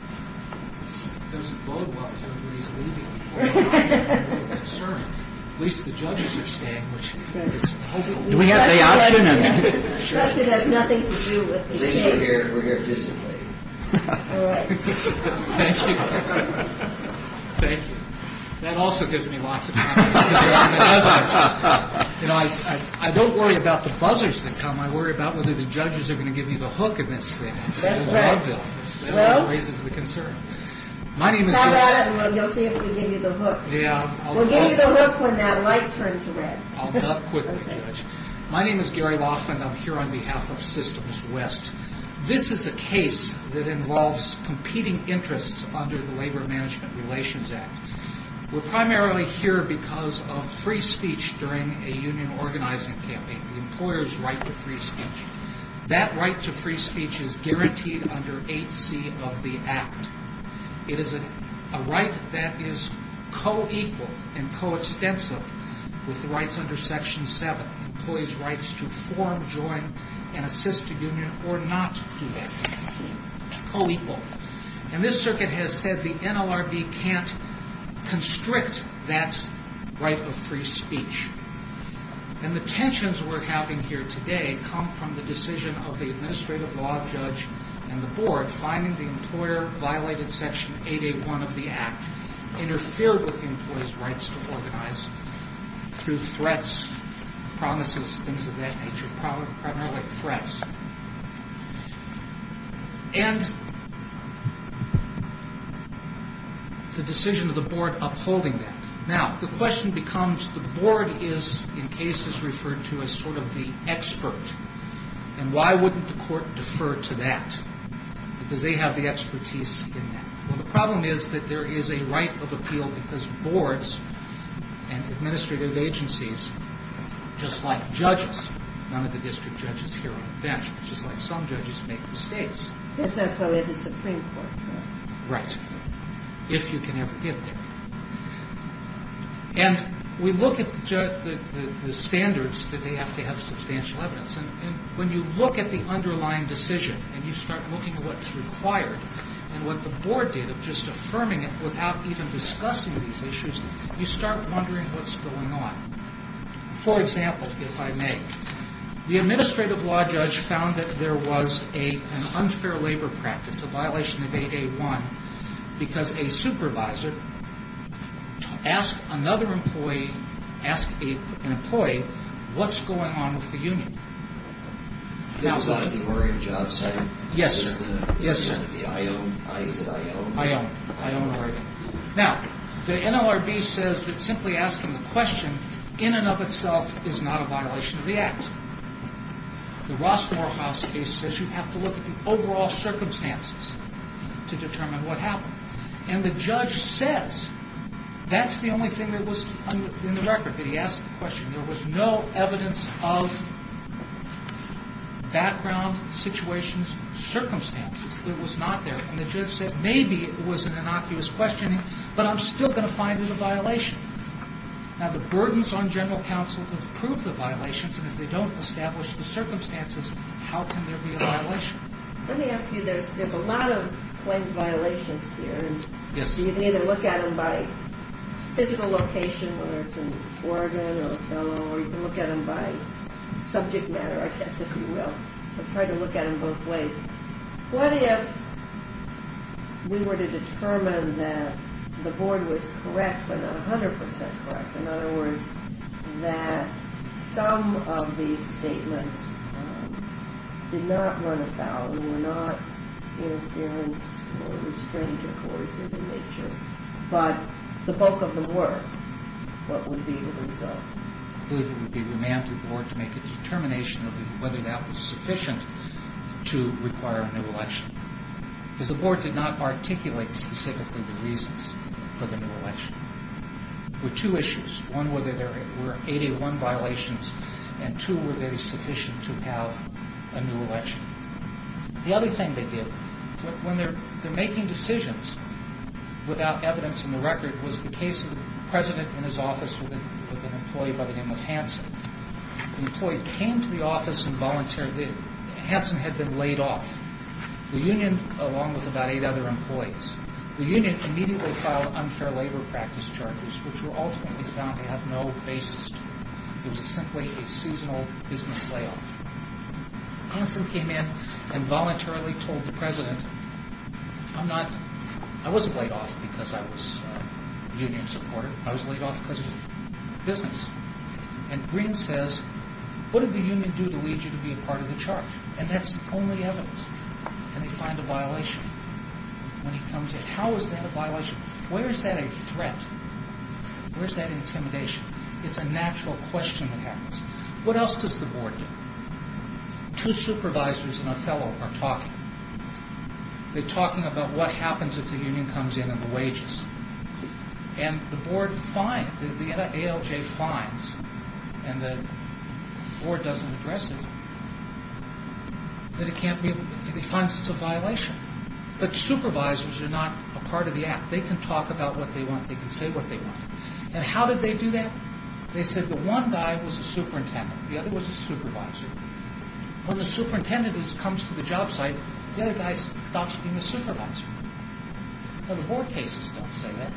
I don't worry about the buzzers that come, I worry about whether the judges are going to give me the hook of incident. My name is Gary Laughlin and I'm here on behalf of Systems West. This is a case that involves competing interests under the Labor Management Relations Act. We're primarily here because of free speech during a union organizing campaign, the employer's right to free speech. That right to free speech is guaranteed under 8C of the Act. It is a right that is co-equal and co-extensive with the rights under Section 7. Employees' rights to form, join, and assist a union or not do that. Co-equal. And this circuit has said the NLRB can't constrict that right of free speech. And the tensions we're having here today come from the decision of the administrative law judge and the board finding the employer violated Section 881 of the Act, interfered with the employee's rights to organize through threats, promises, things of that nature, primarily threats. And the decision of the board upholding that. Now, the question becomes, the board is in cases referred to as sort of the expert. And why wouldn't the court defer to that? Because they have the expertise in that. Well, the problem is that there is a right of appeal because boards and administrative agencies, just like judges, none of the district judges here on the bench, just like some judges make mistakes. Right. If you can ever get there. And we look at the standards that they have to have substantial evidence. And when you look at the underlying decision and you start looking at what's required and what the board did of just affirming it without even discussing these issues, you start wondering what's going on. For example, if I may, the administrative law judge found that there was an unfair labor practice, a violation of 881, because a supervisor asked another employee, asked an employee, what's going on with the union? Now, the NLRB says that simply asking the question in and of itself is not a violation of the act. The Ross Morehouse case says you have to look at the overall circumstances to determine what happened. And the judge says that's the only thing that was in the record that he asked the question. There was no evidence of background, situations, circumstances. It was not there. And the judge said maybe it was an innocuous questioning, but I'm still going to find it a violation. Now, the burdens on general counsel to prove the violations, and if they don't establish the circumstances, how can there be a violation? Let me ask you, there's a lot of claim violations here, and you can either look at them by physical location, whether it's in Oregon or Ocala, or you can look at them by subject matter, I guess, if you will. I've tried to look at them both ways. What if we were to determine that the board was correct, but not 100% correct, in other words, that some of these statements did not run afoul and were not interference or restraint or coercive in nature, but the bulk of them were? What would be the result? I believe it would be remand to the board to make a determination of whether that was sufficient to require a new election, because the board did not articulate specifically the reasons for the new election. There were two issues. One, were there 81 violations, and two, were they sufficient to have a new election? The other thing they did, when they're making decisions without evidence in the record, was the case of the president in his office with an employee by the name of Hanson. The employee came to the office and volunteered. Hanson had been laid off. The union, along with about eight other employees, the union immediately filed unfair labor practice charges, which were ultimately found to have no basis. It was simply a seasonal business layoff. Hanson came in and voluntarily told the president, I wasn't laid off because I was a union supporter. I was laid off because of business. And Greene says, what did the union do to lead you to be a part of the charge? And that's only evidence. And they find a violation when he comes in. How is that a violation? Where is that a threat? Where is that intimidation? It's a natural question that happens. What else does the board do? Two supervisors and a fellow are talking. They're talking about what happens if the union comes in and the wages. And the board finds, the ALJ finds, and the board doesn't address it, that it finds this a violation. But supervisors are not a part of the act. They can talk about what they want. They can say what they want. And how did they do that? They said the one guy was a superintendent. The other was a supervisor. When the superintendent comes to the job site, the other guy stops being a supervisor. And the board cases don't say that.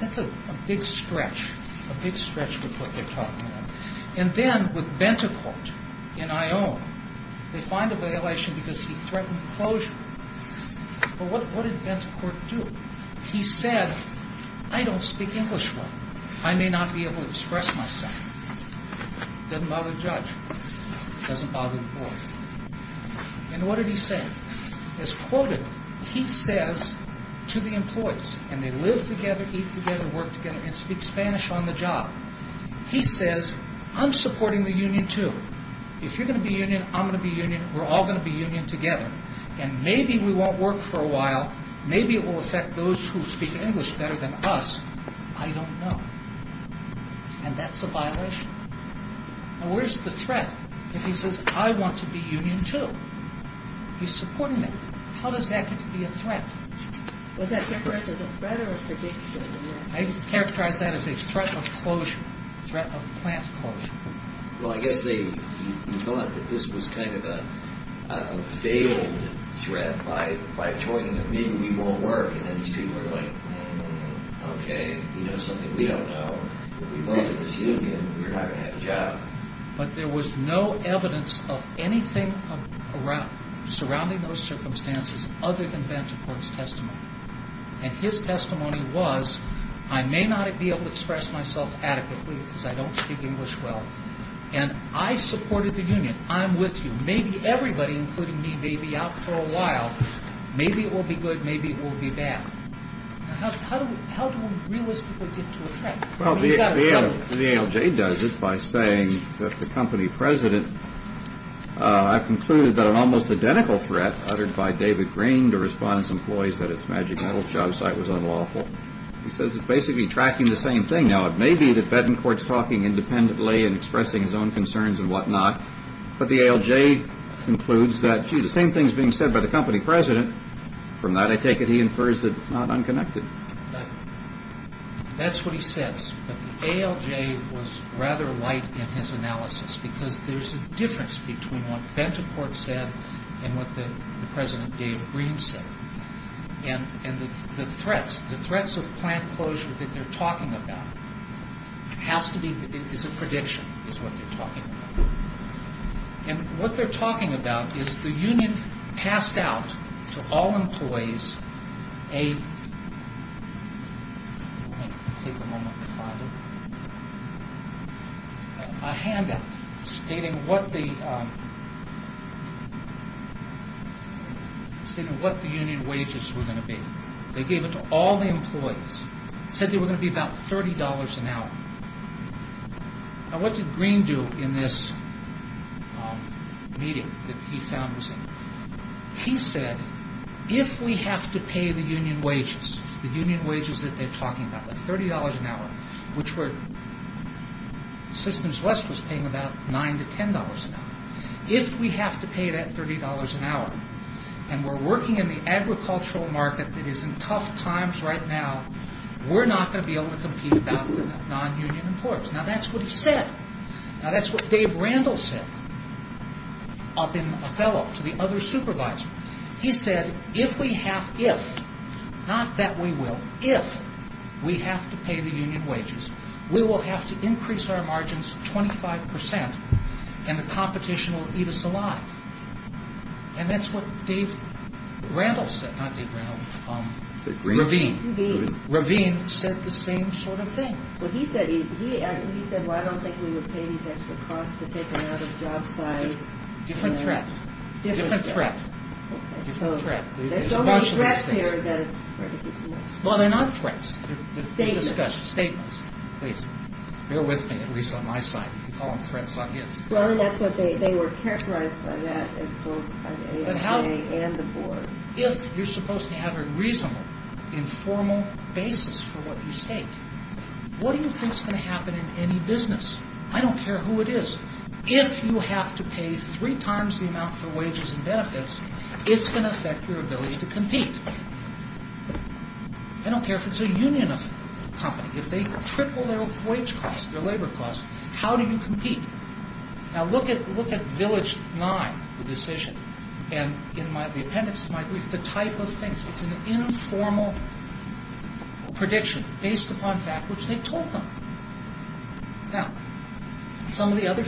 That's a big stretch. A big stretch with what they're talking about. And then with Bentecourt in IOM, they find a violation because he threatened closure. But what did Bentecourt do? He said, I don't speak English well. I may not be able to express myself. Doesn't bother the judge. Doesn't bother the board. And what did he say? It's quoted. He says to the employees, and they live together, eat together, work together, and speak Spanish on the job. He says, I'm supporting the union too. If you're going to be union, I'm going to be union. We're all going to be union together. And maybe we won't work for a while. Maybe it will affect those who speak English better than us. I don't know. And that's a violation. Now, where's the threat? If he says, I want to be union too. He's supporting that. How does that get to be a threat? Was that different as a threat or a prediction? I just characterized that as a threat of closure. Threat of plant closure. Well, I guess they thought that this was kind of a failed threat by throwing that maybe we won't work. And then these people are going, okay, you know something we don't know. If we work at this union, we're not going to have a job. But there was no evidence of anything surrounding those circumstances, other than Van't Hort's testimony. And his testimony was, I may not be able to express myself adequately because I don't speak English well. And I supported the union. I'm with you. Maybe everybody, including me, may be out for a while. Maybe it will be good. Maybe it will be bad. How do we realistically get to a threat? The ALJ does it by saying that the company president, I've concluded that an almost identical threat uttered by David Green to respond to employees at its Magic Metal shop site was unlawful. He says it's basically tracking the same thing. Now, it may be that Van't Hort's talking independently and expressing his own concerns and whatnot. But the ALJ concludes that, gee, the same thing is being said by the company president. From that, I take it he infers that it's not unconnected. That's what he says. But the ALJ was rather light in his analysis because there's a difference between what Van't Hort said and what the president, David Green, said. And the threats, the threats of plant closure that they're talking about has to be, is a prediction, is what they're talking about. And what they're talking about is the union passed out to all employees a handout stating what the union wages were going to be. They gave it to all the employees. It said they were going to be about $30 an hour. Now, what did Green do in this meeting that he founded? He said, if we have to pay the union wages, the union wages that they're talking about, $30 an hour, which Systems West was paying about $9 to $10 an hour, if we have to pay that $30 an hour and we're working in the agricultural market that is in tough times right now, we're not going to be able to compete without the non-union employers. Now, that's what he said. Now, that's what Dave Randall said up in Othello to the other supervisor. He said, if we have, if, not that we will, if we have to pay the union wages, we will have to increase our margins 25% and the competition will eat us alive. And that's what Dave Randall said, not Dave Randall, Ravine. Ravine said the same sort of thing. Well, he said, he said, well, I don't think we would pay these extra costs to take them out of the job site. Different threat. Different threat. Okay, so there's so many threats here that it's hard to keep from us. Well, they're not threats. They're statements. They're statements. Please, bear with me, at least on my side. You can call them threats on his. Well, and that's what they, they were characterized by that as both by the AHA and the board. If you're supposed to have a reasonable, informal basis for what you say, what do you think is going to happen in any business? I don't care who it is. If you have to pay three times the amount for wages and benefits, it's going to affect your ability to compete. I don't care if it's a union of company. If they triple their wage costs, their labor costs, how do you compete? Now, look at, look at village nine, the decision. And in my, the appendix to my brief, the type of things. It's an informal prediction based upon fact, which they told them. Now, some of the other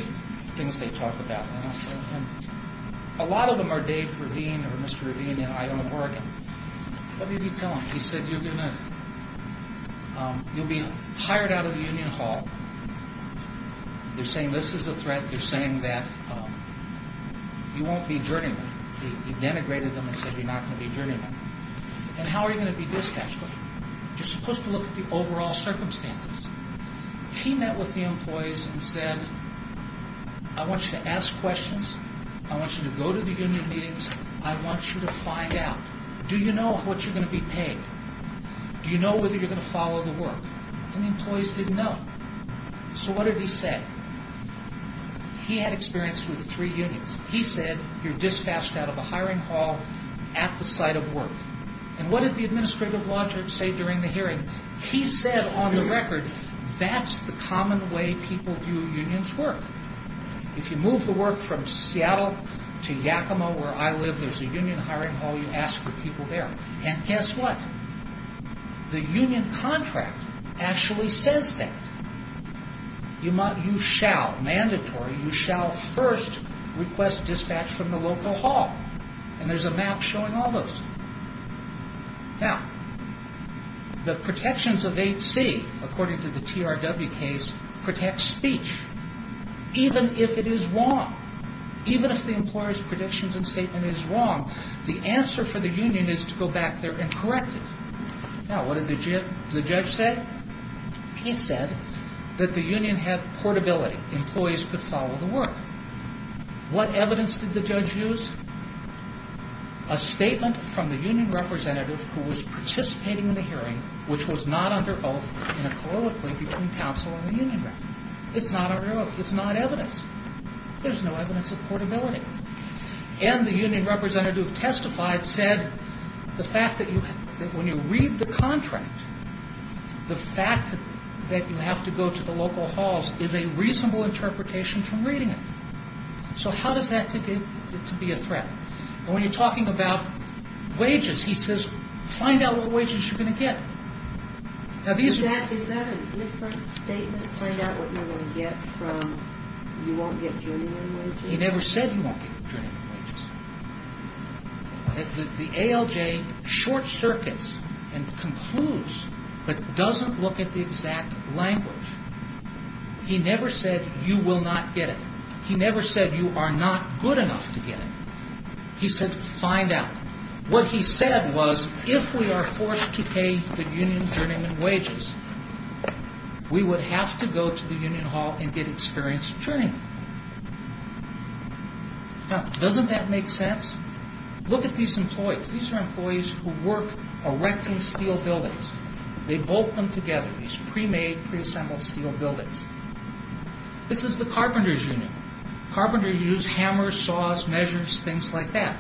things they talk about, and I'll say them. A lot of them are Dave Ravine or Mr. Ravine in Iowa, Oregon. What did he tell them? He said, you're going to, you'll be hired out of the union hall. They're saying this is a threat. They're saying that you won't be journeymen. He denigrated them and said you're not going to be journeymen. And how are you going to be dispatched? You're supposed to look at the overall circumstances. He met with the employees and said, I want you to ask questions. I want you to go to the union meetings. I want you to find out. Do you know what you're going to be paid? Do you know whether you're going to follow the work? And the employees didn't know. So what did he say? He had experience with three unions. He said, you're dispatched out of a hiring hall at the site of work. And what did the administrative logic say during the hearing? He said, on the record, that's the common way people view unions work. If you move the work from Seattle to Yakima, where I live, there's a union hiring hall. You ask for people there. And guess what? The union contract actually says that. You shall, mandatory, you shall first request dispatch from the local hall. And there's a map showing all those. Now, the protections of 8C, according to the TRW case, protects speech. Even if it is wrong. Even if the employer's predictions and statement is wrong, the answer for the union is to go back there and correct it. Now, what did the judge say? He said that the union had portability. Employees could follow the work. What evidence did the judge use? A statement from the union representative who was participating in the hearing, which was not under oath in a colloquy between counsel and the union representative. It's not under oath. It's not evidence. There's no evidence of portability. And the union representative who testified said the fact that when you read the contract, the fact that you have to go to the local halls is a reasonable interpretation from reading it. So how does that take it to be a threat? And when you're talking about wages, he says, find out what wages you're going to get. Is that a different statement? Find out what you're going to get from you won't get union wages? He never said you won't get union wages. The ALJ short circuits and concludes but doesn't look at the exact language. He never said you will not get it. He never said you are not good enough to get it. He said find out. What he said was if we are forced to pay the union journeyman wages, we would have to go to the union hall and get experienced journeymen. Now, doesn't that make sense? Look at these employees. These are employees who work erecting steel buildings. They bolt them together, these pre-made, pre-assembled steel buildings. This is the carpenters' union. Carpenters use hammers, saws, measures, things like that.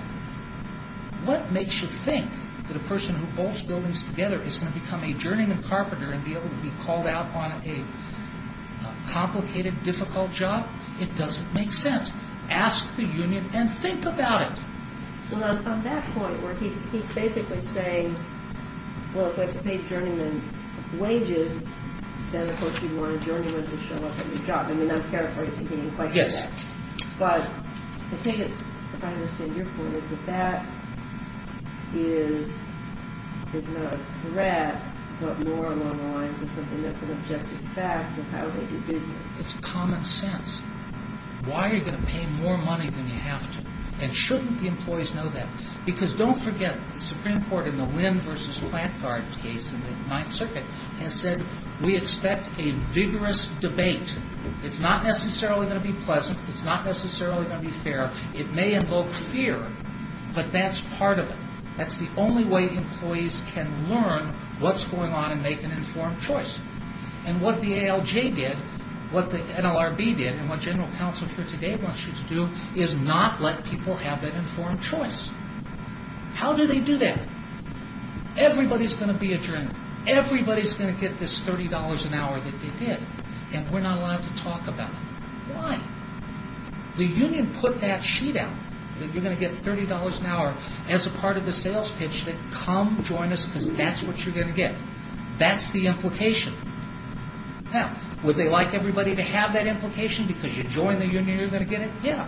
What makes you think that a person who bolts buildings together is going to become a journeyman carpenter and be able to be called out on a complicated, difficult job? It doesn't make sense. Ask the union and think about it. Well, I'm from that point where he's basically saying, well, if I have to pay journeyman wages, then of course you'd want a journeyman to show up at your job. I mean, I'm paraphrasing the question. Yes. But I think, if I understand your point, is that that is not a threat, but more along the lines of something that's an objective fact of how they do business. It's common sense. Why are you going to pay more money than you have to? And shouldn't the employees know that? Because don't forget, the Supreme Court, in the Wynn v. Plantegard case in the Ninth Circuit, has said, we expect a vigorous debate. It's not necessarily going to be pleasant. It's not necessarily going to be fair. It may invoke fear, but that's part of it. That's the only way employees can learn what's going on and make an informed choice. And what the ALJ did, what the NLRB did, and what General Counsel here today wants you to do, is not let people have that informed choice. How do they do that? Everybody's going to be a journeyman. Everybody's going to get this $30 an hour that they did, and we're not allowed to talk about it. Why? The union put that sheet out, that you're going to get $30 an hour as a part of the sales pitch, that come join us because that's what you're going to get. That's the implication. Now, would they like everybody to have that implication because you join the union, you're going to get it? Yeah.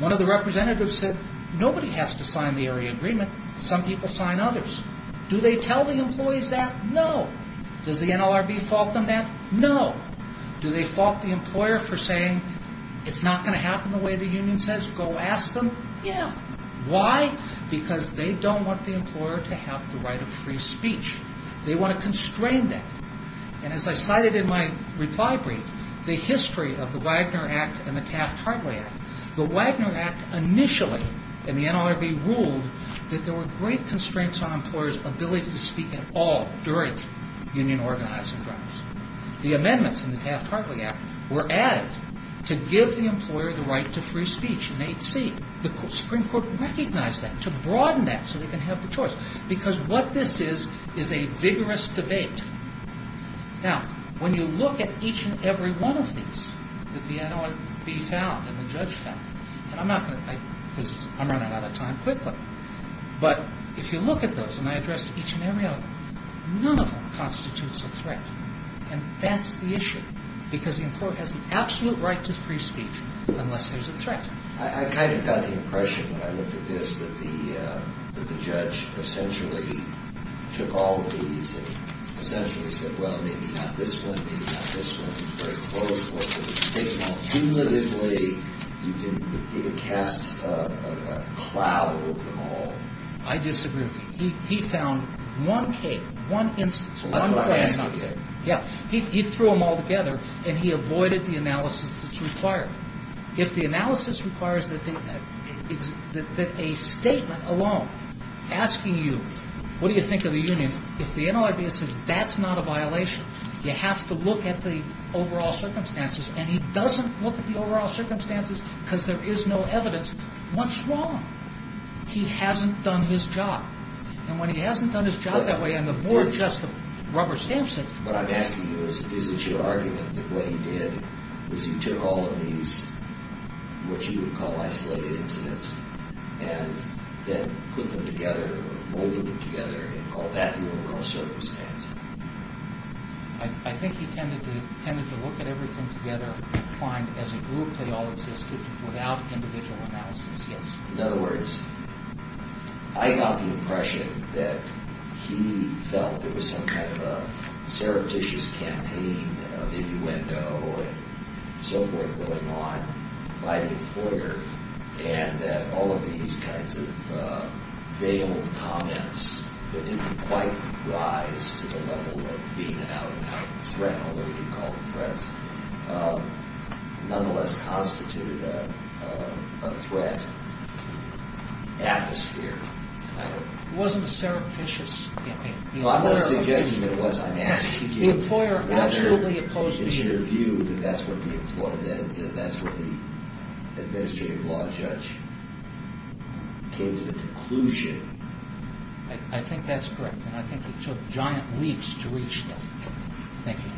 One of the representatives said, nobody has to sign the area agreement. Some people sign others. Do they tell the employees that? No. Does the NLRB fault them then? No. Do they fault the employer for saying, it's not going to happen the way the union says, go ask them? Yeah. Why? Because they don't want the employer to have the right of free speech. They want to constrain that. And as I cited in my reply brief, the history of the Wagner Act and the Taft-Hartley Act, the Wagner Act initially, and the NLRB ruled, that there were great constraints on employers' ability to speak at all during union organizing grounds. The amendments in the Taft-Hartley Act were added to give the employer the right to free speech in 8C. The Supreme Court recognized that, to broaden that so they can have the choice because what this is is a vigorous debate. Now, when you look at each and every one of these that the NLRB found and the judge found, and I'm running out of time quickly, but if you look at those, and I addressed each and every one, none of them constitutes a threat. And that's the issue, because the employer has the absolute right to free speech unless there's a threat. I kind of got the impression when I looked at this that the judge essentially took all of these and essentially said, well, maybe not this one, maybe not this one, it's very close, and cumulatively he casts a cloud over them all. I disagree with you. He found one case, one instance, one precedent. He threw them all together and he avoided the analysis that's required. If the analysis requires that a statement alone asking you, what do you think of the union, if the NLRB says that's not a violation, you have to look at the overall circumstances, and he doesn't look at the overall circumstances because there is no evidence. What's wrong? He hasn't done his job, and when he hasn't done his job that way, and the board just rubber stamps it. What I'm asking you is, is it your argument that what he did was he took all of these, what you would call isolated incidents, and then put them together or molded them together and called that the overall circumstance? I think he tended to look at everything together and find as a group they all existed without individual analysis, yes. In other words, I got the impression that he felt there was some kind of a surreptitious campaign, a mini-window and so forth going on by the employer, and that all of these kinds of veiled comments that didn't quite rise to the level of being an out-and-out threat, however you call the threats, nonetheless constituted a threat atmosphere. It wasn't a surreptitious campaign. No, I'm not suggesting that it was. I'm asking you whether it's your view that that's what the administrative law judge came to the conclusion. I think that's correct, and I think he took giant leaps to reach that. Thank you.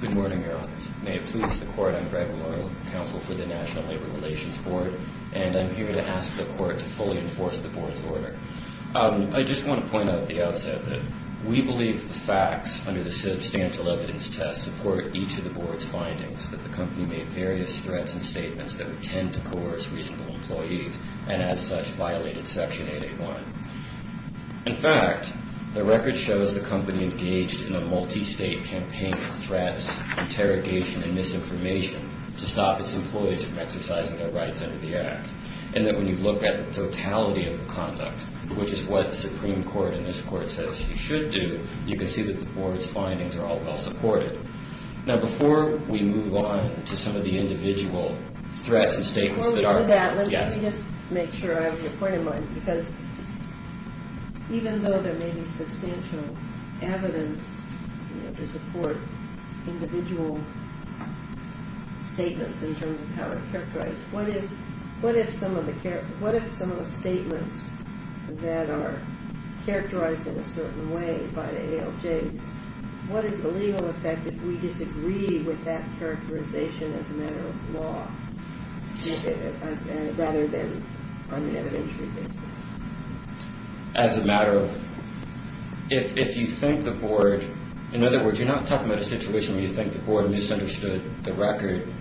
Good morning, Your Honour. May it please the Court I'm Greg Murrow, counsel for the National Labor Relations Board, and I'm here to ask the Court to fully enforce the Board's order. I just want to point out at the outset that we believe the facts under the substantial evidence test support each of the Board's findings, that the company made various threats and statements that would tend to coerce regional employees and as such violated Section 8A1. In fact, the record shows the company engaged in a multi-state campaign of threats, interrogation, and misinformation to stop its employees from exercising their rights under the Act, and that when you look at the totality of the conduct, which is what the Supreme Court in this Court says you should do, you can see that the Board's findings are all well supported. Now, before we move on to some of the individual threats and statements that are... Before we do that, let me just make sure I have your point in mind, because even though there may be substantial evidence to support individual statements in terms of how they're characterized, what if some of the statements that are characterized in a certain way by the ALJ, what is the legal effect if we disagree with that characterization as a matter of law rather than on an evidentiary basis? As a matter of... If you think the Board... In other words, you're not talking about a situation where you think the Board misunderstood the record,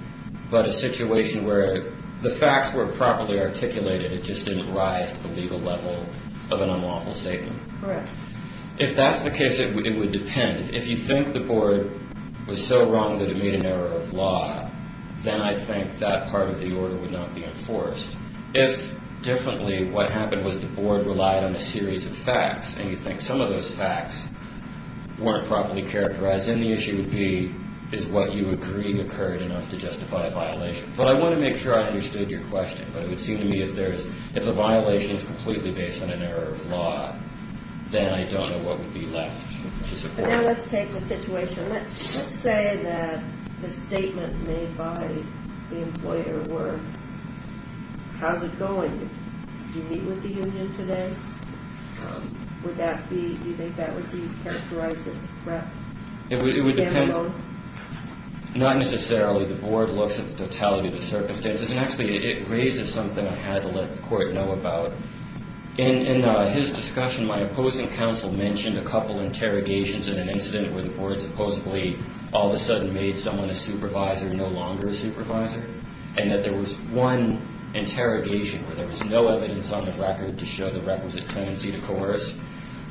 but a situation where the facts were properly articulated, it just didn't rise to the legal level of an unlawful statement. Correct. If that's the case, it would depend. If you think the Board was so wrong that it made an error of law, then I think that part of the order would not be enforced. If, differently, what happened was the Board relied on a series of facts, and you think some of those facts weren't properly characterized, then the issue would be, is what you agree occurred enough to justify a violation? But I want to make sure I understood your question. But it would seem to me if there is... If a violation is completely based on an error of law, then I don't know what would be left to support. But now let's take the situation... Let's say that the statement made by the employer How's it going? Do you meet with the union today? Would that be... Do you think that would be characterized as a threat? It would depend. Not necessarily. The Board looks at the totality of the circumstances. Actually, it raises something I had to let the Court know about. In his discussion, my opposing counsel mentioned a couple of interrogations in an incident where the Board supposedly all of a sudden made someone a supervisor and no longer a supervisor. And that there was one interrogation where there was no evidence on the record to show the records of tenancy to coerce.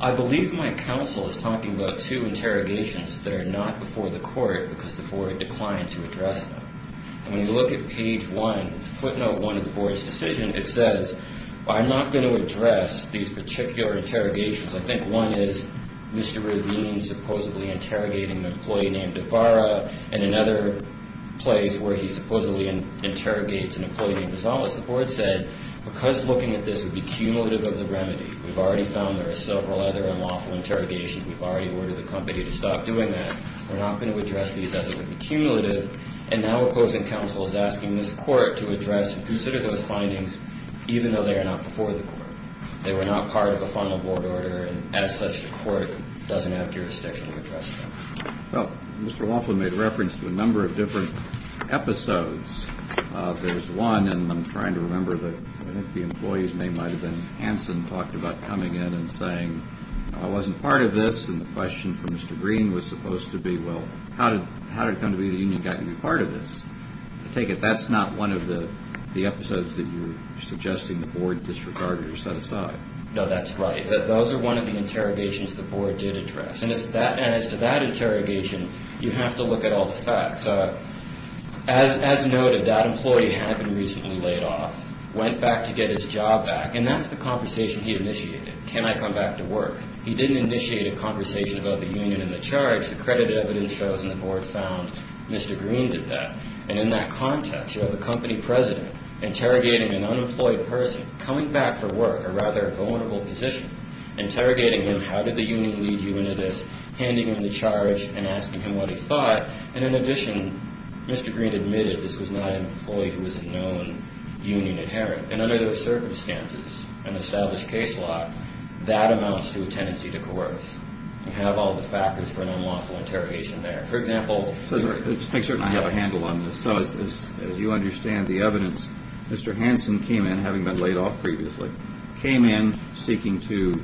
I believe my counsel is talking about two interrogations that are not before the Court because the Court declined to address them. And when you look at page 1, footnote 1 of the Board's decision, it says, I'm not going to address these particular interrogations. I think one is Mr. Ravine supposedly interrogating an employee named Ibarra and another place where he supposedly interrogates an employee named Rosales. The Board said, because looking at this would be cumulative of the remedy, we've already found there are several other unlawful interrogations, we've already ordered the company to stop doing that, we're not going to address these as accumulative. And now opposing counsel is asking this Court to address and consider those findings even though they are not before the Court. They were not part of a final Board order and as such the Court doesn't have jurisdiction to address them. Well, Mr. Laughlin made reference to a number of different episodes. There's one, and I'm trying to remember, I think the employee's name might have been Hanson, talked about coming in and saying, I wasn't part of this, and the question from Mr. Green was supposed to be, well, how did it come to be the union got to be part of this? I take it that's not one of the episodes that you're suggesting the Board disregarded or set aside. No, that's right. Those are one of the interrogations the Board did address. And as to that interrogation, you have to look at all the facts. As noted, that employee had been recently laid off, went back to get his job back, and that's the conversation he initiated. Can I come back to work? He didn't initiate a conversation about the union and the charge. The credit evidence shows and the Board found Mr. Green did that. And in that context, you have a company president interrogating an unemployed person, coming back from work, a rather vulnerable position, interrogating him, how did the union lead you into this, handing him the charge and asking him what he thought. And in addition, Mr. Green admitted this was not an employee who was a known union adherent. And under those circumstances, an established case law, that amounts to a tendency to coerce and have all the factors for an unlawful interrogation there. For example, I certainly have a handle on this. So as you understand the evidence, Mr. Hansen came in, having been laid off previously, came in seeking to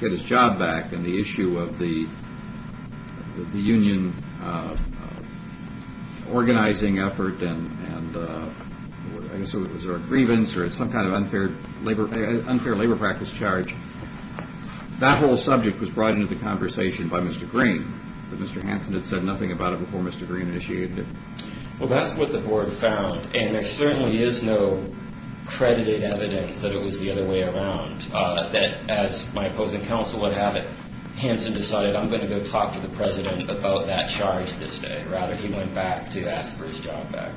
get his job back and the issue of the union organizing effort and I guess it was a grievance or some kind of unfair labor practice charge. That whole subject was brought into the conversation by Mr. Green, but Mr. Hansen had said nothing about it before Mr. Green initiated it. Well, that's what the Board found, and there certainly is no credited evidence that it was the other way around. That as my opposing counsel would have it, Hansen decided I'm going to go talk to the President about that charge this day. Rather, he went back to ask for his job back.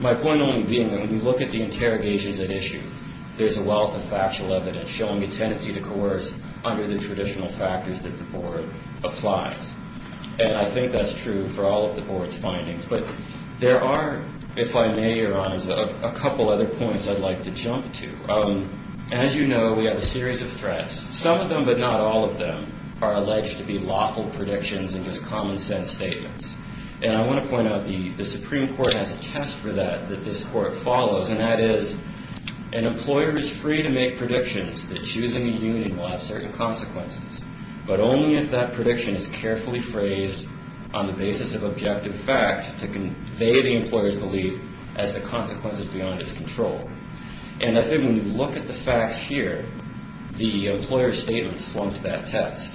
My point only being that when you look at the interrogations at issue, there's a wealth of factual evidence showing a tendency to coerce under the traditional factors that the Board applies. And I think that's true for all of the Board's findings. But there are, if I may, Your Honors, a couple other points I'd like to jump to. As you know, we have a series of threats. Some of them, but not all of them, are alleged to be lawful predictions and just common sense statements. And I want to point out the Supreme Court has a test for that that this Court follows, and that is an employer is free to make predictions that choosing a union will have certain consequences, but only if that prediction is carefully phrased on the basis of objective fact to convey the employer's belief as the consequences beyond its control. And I think when we look at the facts here, the employer's statements flunked that test.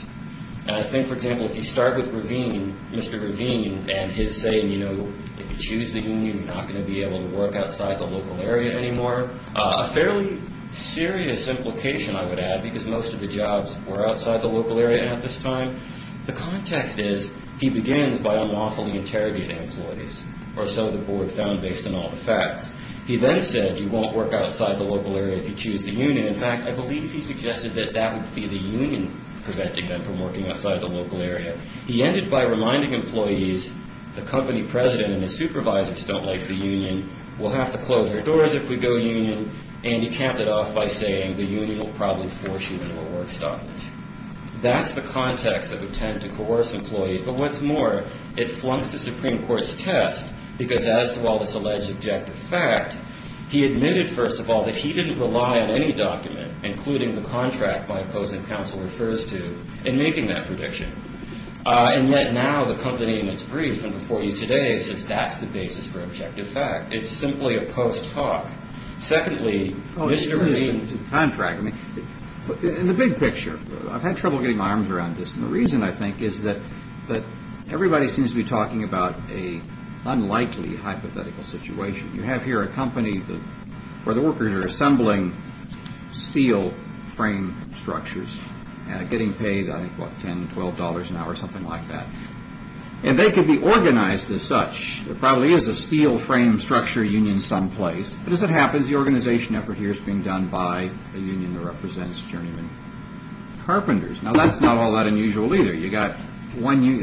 And I think, for example, if you start with Ravine, Mr. Ravine, and his saying, you know, if you choose the union, you're not going to be able to work outside the local area anymore, a fairly serious implication, I would add, because most of the jobs were outside the local area at this time. The context is, he begins by unlawfully interrogating employees, or so the board found based on all the facts. He then said, you won't work outside the local area if you choose the union. In fact, I believe he suggested that that would be the union preventing them from working outside the local area. He ended by reminding employees, the company president and his supervisors don't like the union, we'll have to close our doors if we go union, and he counted off by saying, the union will probably force you into a work stoppage. That's the context of intent to coerce employees. But what's more, it flunked the Supreme Court's test, because as to all this alleged objective fact, he admitted, first of all, that he didn't rely on any document, including the contract my opposing counsel refers to, in making that prediction. And yet now the company, in its brief, and before you today, says that's the basis for objective fact. It's simply a post hoc. Secondly, Mr. Ravine. In the big picture, I've had trouble getting my arms around this, and the reason, I think, is that everybody seems to be talking about an unlikely hypothetical situation. You have here a company where the workers are assembling steel frame structures, getting paid, I think, what, $10, $12 an hour, something like that. And they could be organized as such. There probably is a steel frame structure union someplace. But as it happens, the organization effort here is being done by a union that represents journeyman carpenters. Now, that's not all that unusual, either. You've got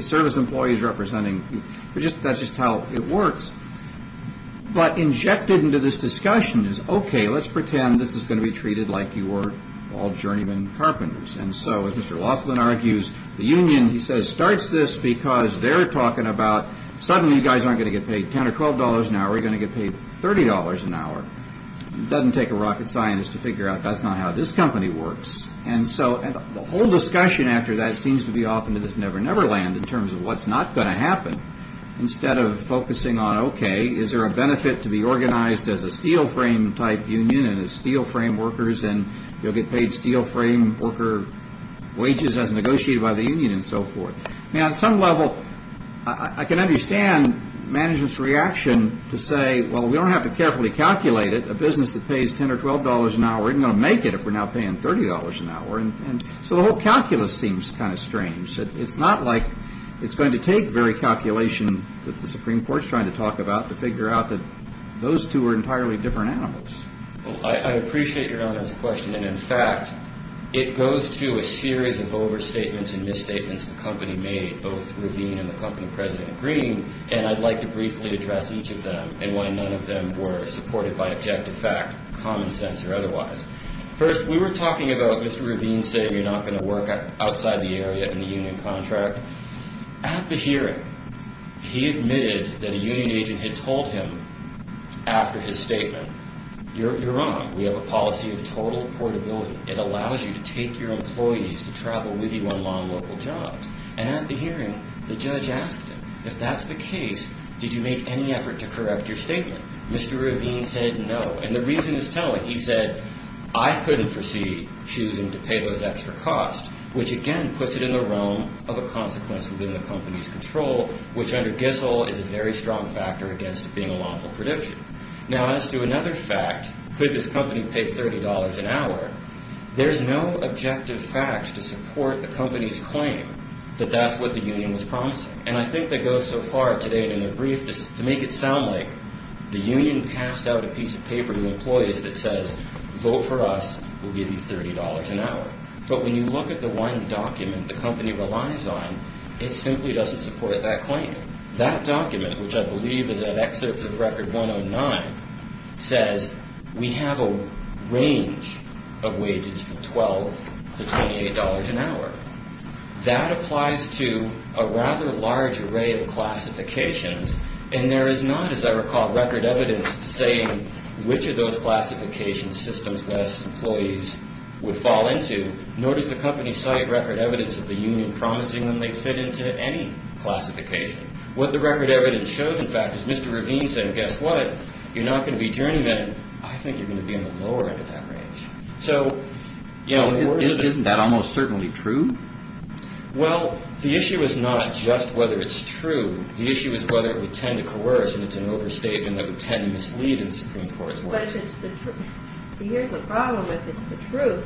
service employees representing. That's just how it works. But injected into this discussion is, okay, let's pretend this is going to be treated like you are all journeyman carpenters. And so, as Mr. Laughlin argues, the union, he says, starts this because they're talking about, suddenly you guys aren't going to get paid $10 or $12 an hour. You're going to get paid $30 an hour. It doesn't take a rocket scientist to figure out that's not how this company works. And so the whole discussion after that seems to be off into this never-never land in terms of what's not going to happen. Instead of focusing on, okay, is there a benefit to be organized as a steel frame type union and as steel frame workers and you'll get paid steel frame worker wages as negotiated by the union and so forth. Now, at some level, I can understand management's reaction to say, well, we don't have to carefully calculate it. A business that pays $10 or $12 an hour isn't going to make it if we're now paying $30 an hour. And so the whole calculus seems kind of strange. It's not like it's going to take very calculation that the Supreme Court is trying to talk about to figure out that those two are entirely different animals. I appreciate your honest question. And, in fact, it goes to a series of overstatements and misstatements the company made, both Ravine and the company president Green, and I'd like to briefly address each of them and why none of them were supported by objective fact, common sense, or otherwise. First, we were talking about Mr. Ravine saying you're not going to work outside the area in the union contract. At the hearing, he admitted that a union agent had told him after his statement, you're wrong, we have a policy of total portability. It allows you to take your employees to travel with you on long local jobs. And at the hearing, the judge asked him, if that's the case, did you make any effort to correct your statement? Mr. Ravine said no. And the reason is telling. He said, I couldn't proceed choosing to pay those extra costs, which again puts it in the realm of a consequence within the company's control, which under Giselle is a very strong factor against it being a lawful prediction. Now as to another fact, could this company pay $30 an hour? There's no objective fact to support the company's claim that that's what the union was promising. And I think that goes so far today in a brief to make it sound like the union passed out a piece of paper to employees that says vote for us, we'll give you $30 an hour. But when you look at the one document the company relies on, it simply doesn't support that claim. That document, which I believe is an excerpt of Record 109, says we have a range of wages from $12 to $28 an hour. That applies to a rather large array of classifications. And there is not, as I recall, record evidence saying which of those classification systems that its employees would fall into, nor does the company cite record evidence of the union promising them they fit into any classification. What the record evidence shows, in fact, is Mr. Ravine said, guess what? You're not going to be journeymen. I think you're going to be on the lower end of that range. So, you know, isn't that almost certainly true? Well, the issue is not just whether it's true. The issue is whether it would tend to coerce and it's an overstatement that would tend to mislead in Supreme Court's work. See, here's the problem. If it's the truth,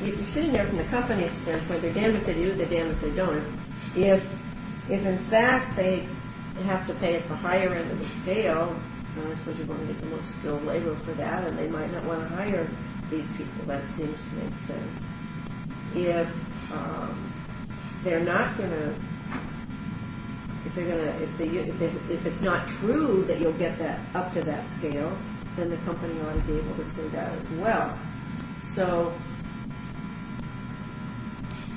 if you're sitting there from the company's standpoint, the damage they do, the damage they don't, if in fact they have to pay a higher end of the scale, I suppose you're going to get the most skilled labor for that, and they might not want to hire these people. That seems to make sense. If they're not going to, if it's not true that you'll get up to that scale, then the company ought to be able to say that as well. So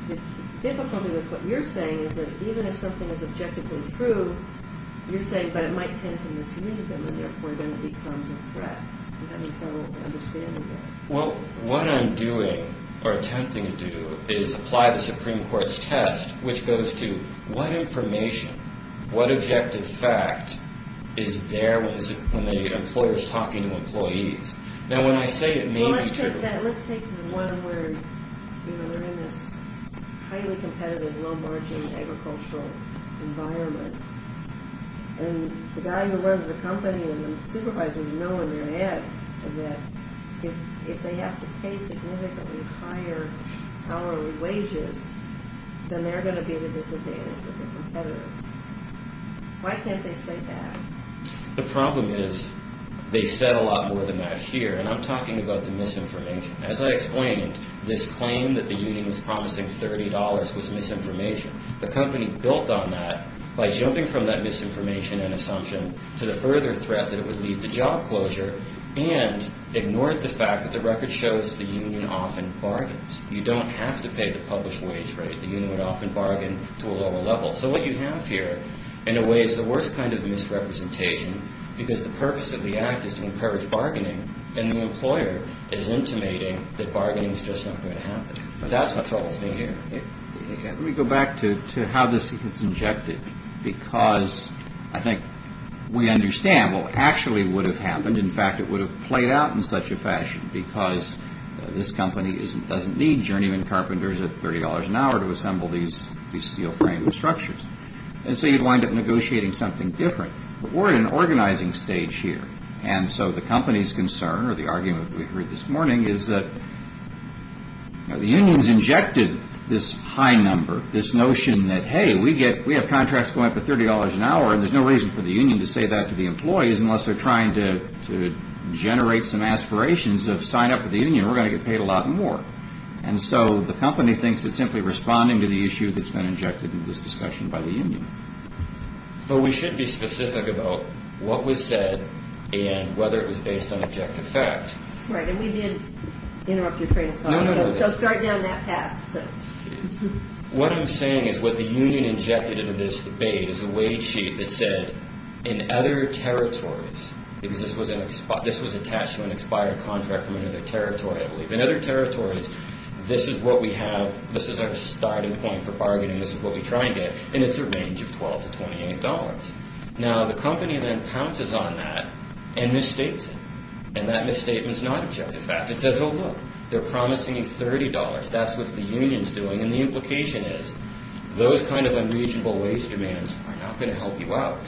the difficulty with what you're saying is that even if something is objectively true, you're saying, but it might tend to mislead them and therefore then it becomes a threat. I'm having trouble understanding that. Well, what I'm doing or attempting to do is apply the Supreme Court's test, which goes to what information, what objective fact, is there when the employer is talking to employees. Now, when I say it may be true. Well, let's take that. Let's take the one where they're in this highly competitive, low-margin agricultural environment, and the guy who runs the company and the supervisors know in their heads that if they have to pay significantly higher hourly wages, then they're going to be at a disadvantage with the competitors. Why can't they say that? The problem is they said a lot more than that here, and I'm talking about the misinformation. As I explained, this claim that the union was promising $30 was misinformation. The company built on that by jumping from that misinformation and assumption to the further threat that it would lead to job closure and ignored the fact that the record shows the union often bargains. You don't have to pay the published wage rate. The union would often bargain to a lower level. So what you have here, in a way, is the worst kind of misrepresentation because the purpose of the act is to encourage bargaining, and the employer is intimating that bargaining is just not going to happen. That's what troubles me here. Let me go back to how this gets injected because I think we understand what actually would have happened. In fact, it would have played out in such a fashion because this company doesn't need journeyman carpenters at $30 an hour to assemble these steel frame structures, and so you'd wind up negotiating something different. But we're in an organizing stage here, and so the company's concern or the argument we heard this morning is that the union's injected this high number, this notion that, hey, we have contracts going up to $30 an hour, and there's no reason for the union to say that to the employees unless they're trying to generate some aspirations of sign up with the union. We're going to get paid a lot more. And so the company thinks it's simply responding to the issue that's been injected into this discussion by the union. But we should be specific about what was said and whether it was based on objective facts. Right, and we did interrupt your train of thought. No, no, no. So start down that path. What I'm saying is what the union injected into this debate is a wage sheet that said, in other territories, because this was attached to an expired contract from another territory, I believe. In other territories, this is what we have. This is our starting point for bargaining. This is what we try and get, and it's a range of $12 to $28. Now, the company then pounces on that and misstates it, and that misstatement's not objective fact. It says, oh, look, they're promising you $30. That's what the union's doing, and the implication is those kind of unreasonable wage demands are not going to help you out.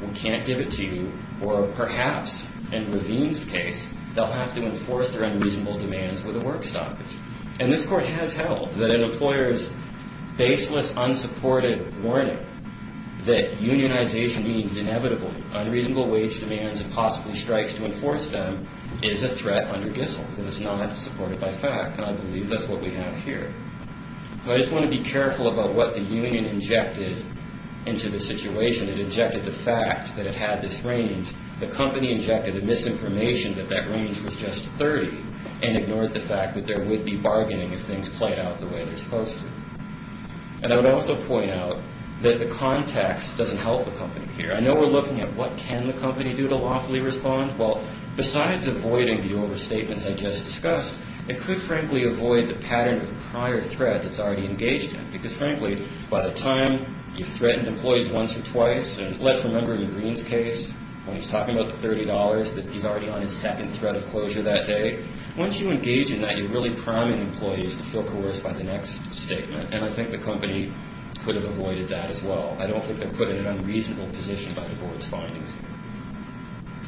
We can't give it to you, or perhaps, in Ravine's case, they'll have to enforce their unreasonable demands with a work stoppage. And this court has held that an employer's baseless, unsupported warning that unionization means inevitably unreasonable wage demands and possibly strikes to enforce them is a threat under Gissel. It was not supported by fact, and I believe that's what we have here. So I just want to be careful about what the union injected into the situation. It injected the fact that it had this range. The company injected the misinformation that that range was just $30 and ignored the fact that there would be bargaining if things played out the way they're supposed to. And I would also point out that the context doesn't help the company here. I know we're looking at what can the company do to lawfully respond. Well, besides avoiding the overstatements I just discussed, it could, frankly, avoid the pattern of prior threats it's already engaged in, because, frankly, by the time you've threatened employees once or twice, and let's remember in Greene's case when he was talking about the $30 that he's already on his second threat of closure that day, once you engage in that, you're really priming employees to feel coerced by the next statement. And I think the company could have avoided that as well. I don't think they're put in an unreasonable position by the board's findings.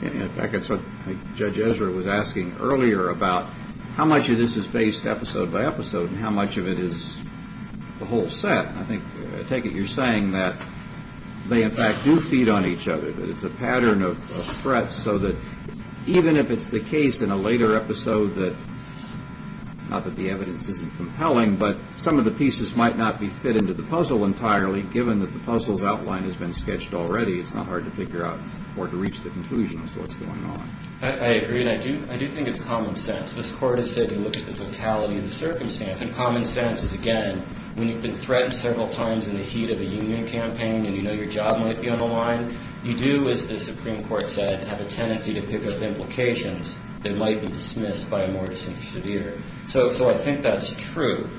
In fact, that's what Judge Ezra was asking earlier about how much of this is based episode by episode and how much of it is the whole set. I take it you're saying that they, in fact, do feed on each other, that it's a pattern of threats so that even if it's the case in a later episode that, not that the evidence isn't compelling, but some of the pieces might not be fit into the puzzle entirely, given that the puzzle's outline has been sketched already, it's not hard to figure out or to reach the conclusion as to what's going on. I agree, and I do think it's common sense. This Court has taken a look at the totality of the circumstance. And common sense is, again, when you've been threatened several times in the heat of a union campaign and you know your job might be on the line, you do, as the Supreme Court said, have a tendency to pick up implications that might be dismissed by a more disinterested ear. So I think that's true.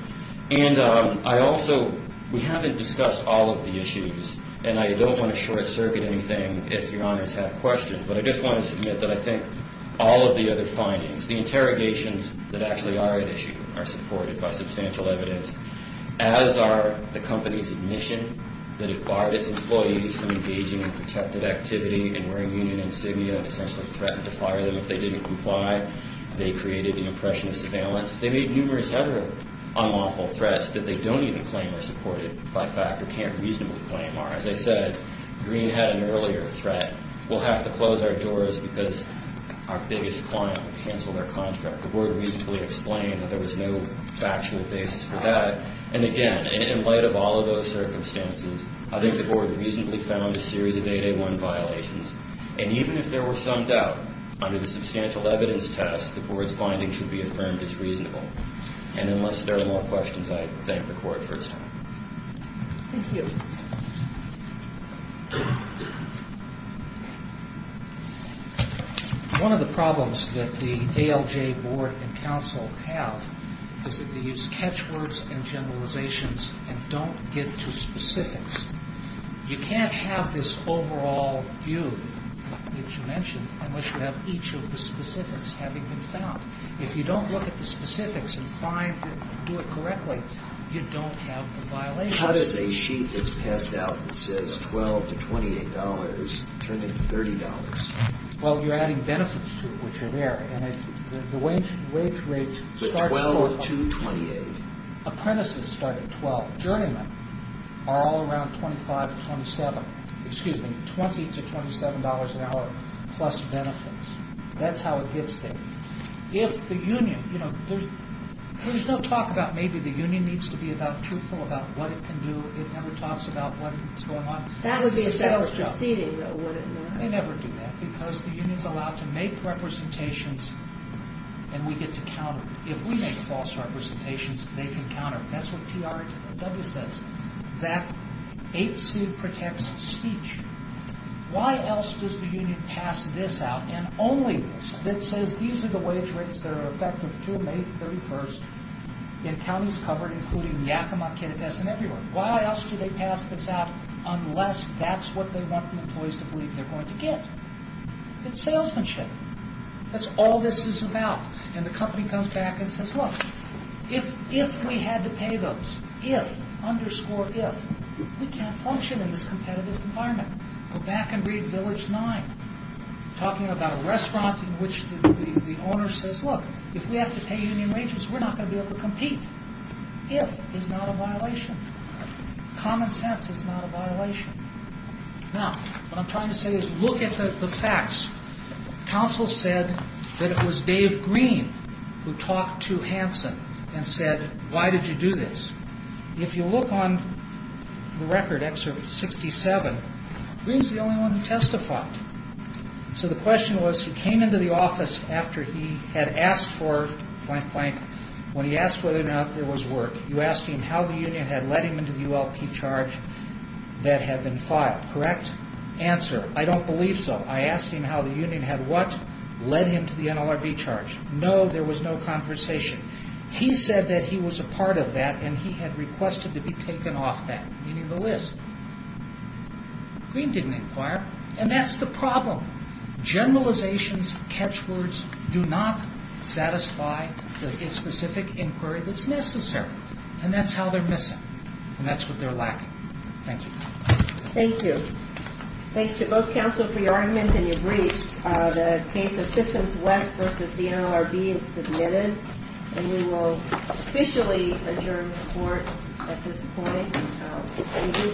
And I also – we haven't discussed all of the issues, and I don't want to short-circuit anything if Your Honors have questions, but I just want to submit that I think all of the other findings, the interrogations that actually are at issue, are supported by substantial evidence. As are the company's admission that it barred its employees from engaging in protected activity and wearing union insignia and essentially threatened to fire them if they didn't comply. They created the impression of surveillance. They made numerous other unlawful threats that they don't even claim are supported by fact or can't reasonably claim are. As I said, Green had an earlier threat, we'll have to close our doors because our biggest client will cancel their contract. The Board reasonably explained that there was no factual basis for that. And again, in light of all of those circumstances, I think the Board reasonably found a series of 8A1 violations. And even if there were some doubt, under the substantial evidence test, the Board's findings should be affirmed as reasonable. And unless there are more questions, I thank the Court for its time. Thank you. One of the problems that the ALJ Board and Council have is that they use catchwords and generalizations and don't get to specifics. You can't have this overall view that you mentioned unless you have each of the specifics having been found. If you don't look at the specifics and find and do it correctly, you don't have the violation. How does a sheet that's passed out that says $12 to $28 turn into $30? Well, you're adding benefits to it, which are there. And the wage rates start at $12 to $28. Apprentices start at $12. Journeymen are all around $25 to $27. Excuse me, $20 to $27 an hour plus benefits. That's how it gets there. If the union... There's no talk about maybe the union needs to be truthful about what it can do. It never talks about what's going on. That would be a set of proceedings, though, wouldn't it? They never do that because the union's allowed to make representations, and we get to counter. If we make false representations, they can counter. That's what TRW says, that 8C protects speech. Why else does the union pass this out, and only this, that says these are the wage rates that are effective through May 31st in counties covered, including Yakima, Kittitas, and everywhere? Why else do they pass this out unless that's what they want the employees to believe they're going to get? It's salesmanship. That's all this is about. And the company comes back and says, Look, if we had to pay those, if, underscore if, we can't function in this competitive environment. Go back and read Village 9, talking about a restaurant in which the owner says, Look, if we have to pay union wages, we're not going to be able to compete. If is not a violation. Common sense is not a violation. Now, what I'm trying to say is look at the facts. Counsel said that it was Dave Green who talked to Hanson and said, Why did you do this? If you look on the record, Excerpt 67, Green's the only one who testified. So the question was, he came into the office after he had asked for blank, blank. When he asked whether or not there was work, you asked him how the union had led him into the ULP charge that had been filed. Correct? Answer, I don't believe so. I asked him how the union had what led him to the NLRB charge. No, there was no conversation. He said that he was a part of that and he had requested to be taken off that, meaning the list. Green didn't inquire. And that's the problem. Generalizations, catch words, do not satisfy the specific inquiry that's necessary. And that's how they're missing. And that's what they're lacking. Thank you. Thank you. Thanks to both counsel for your argument and your briefs. The case of Systems West versus the NLRB is submitted. And we will officially adjourn the court at this point.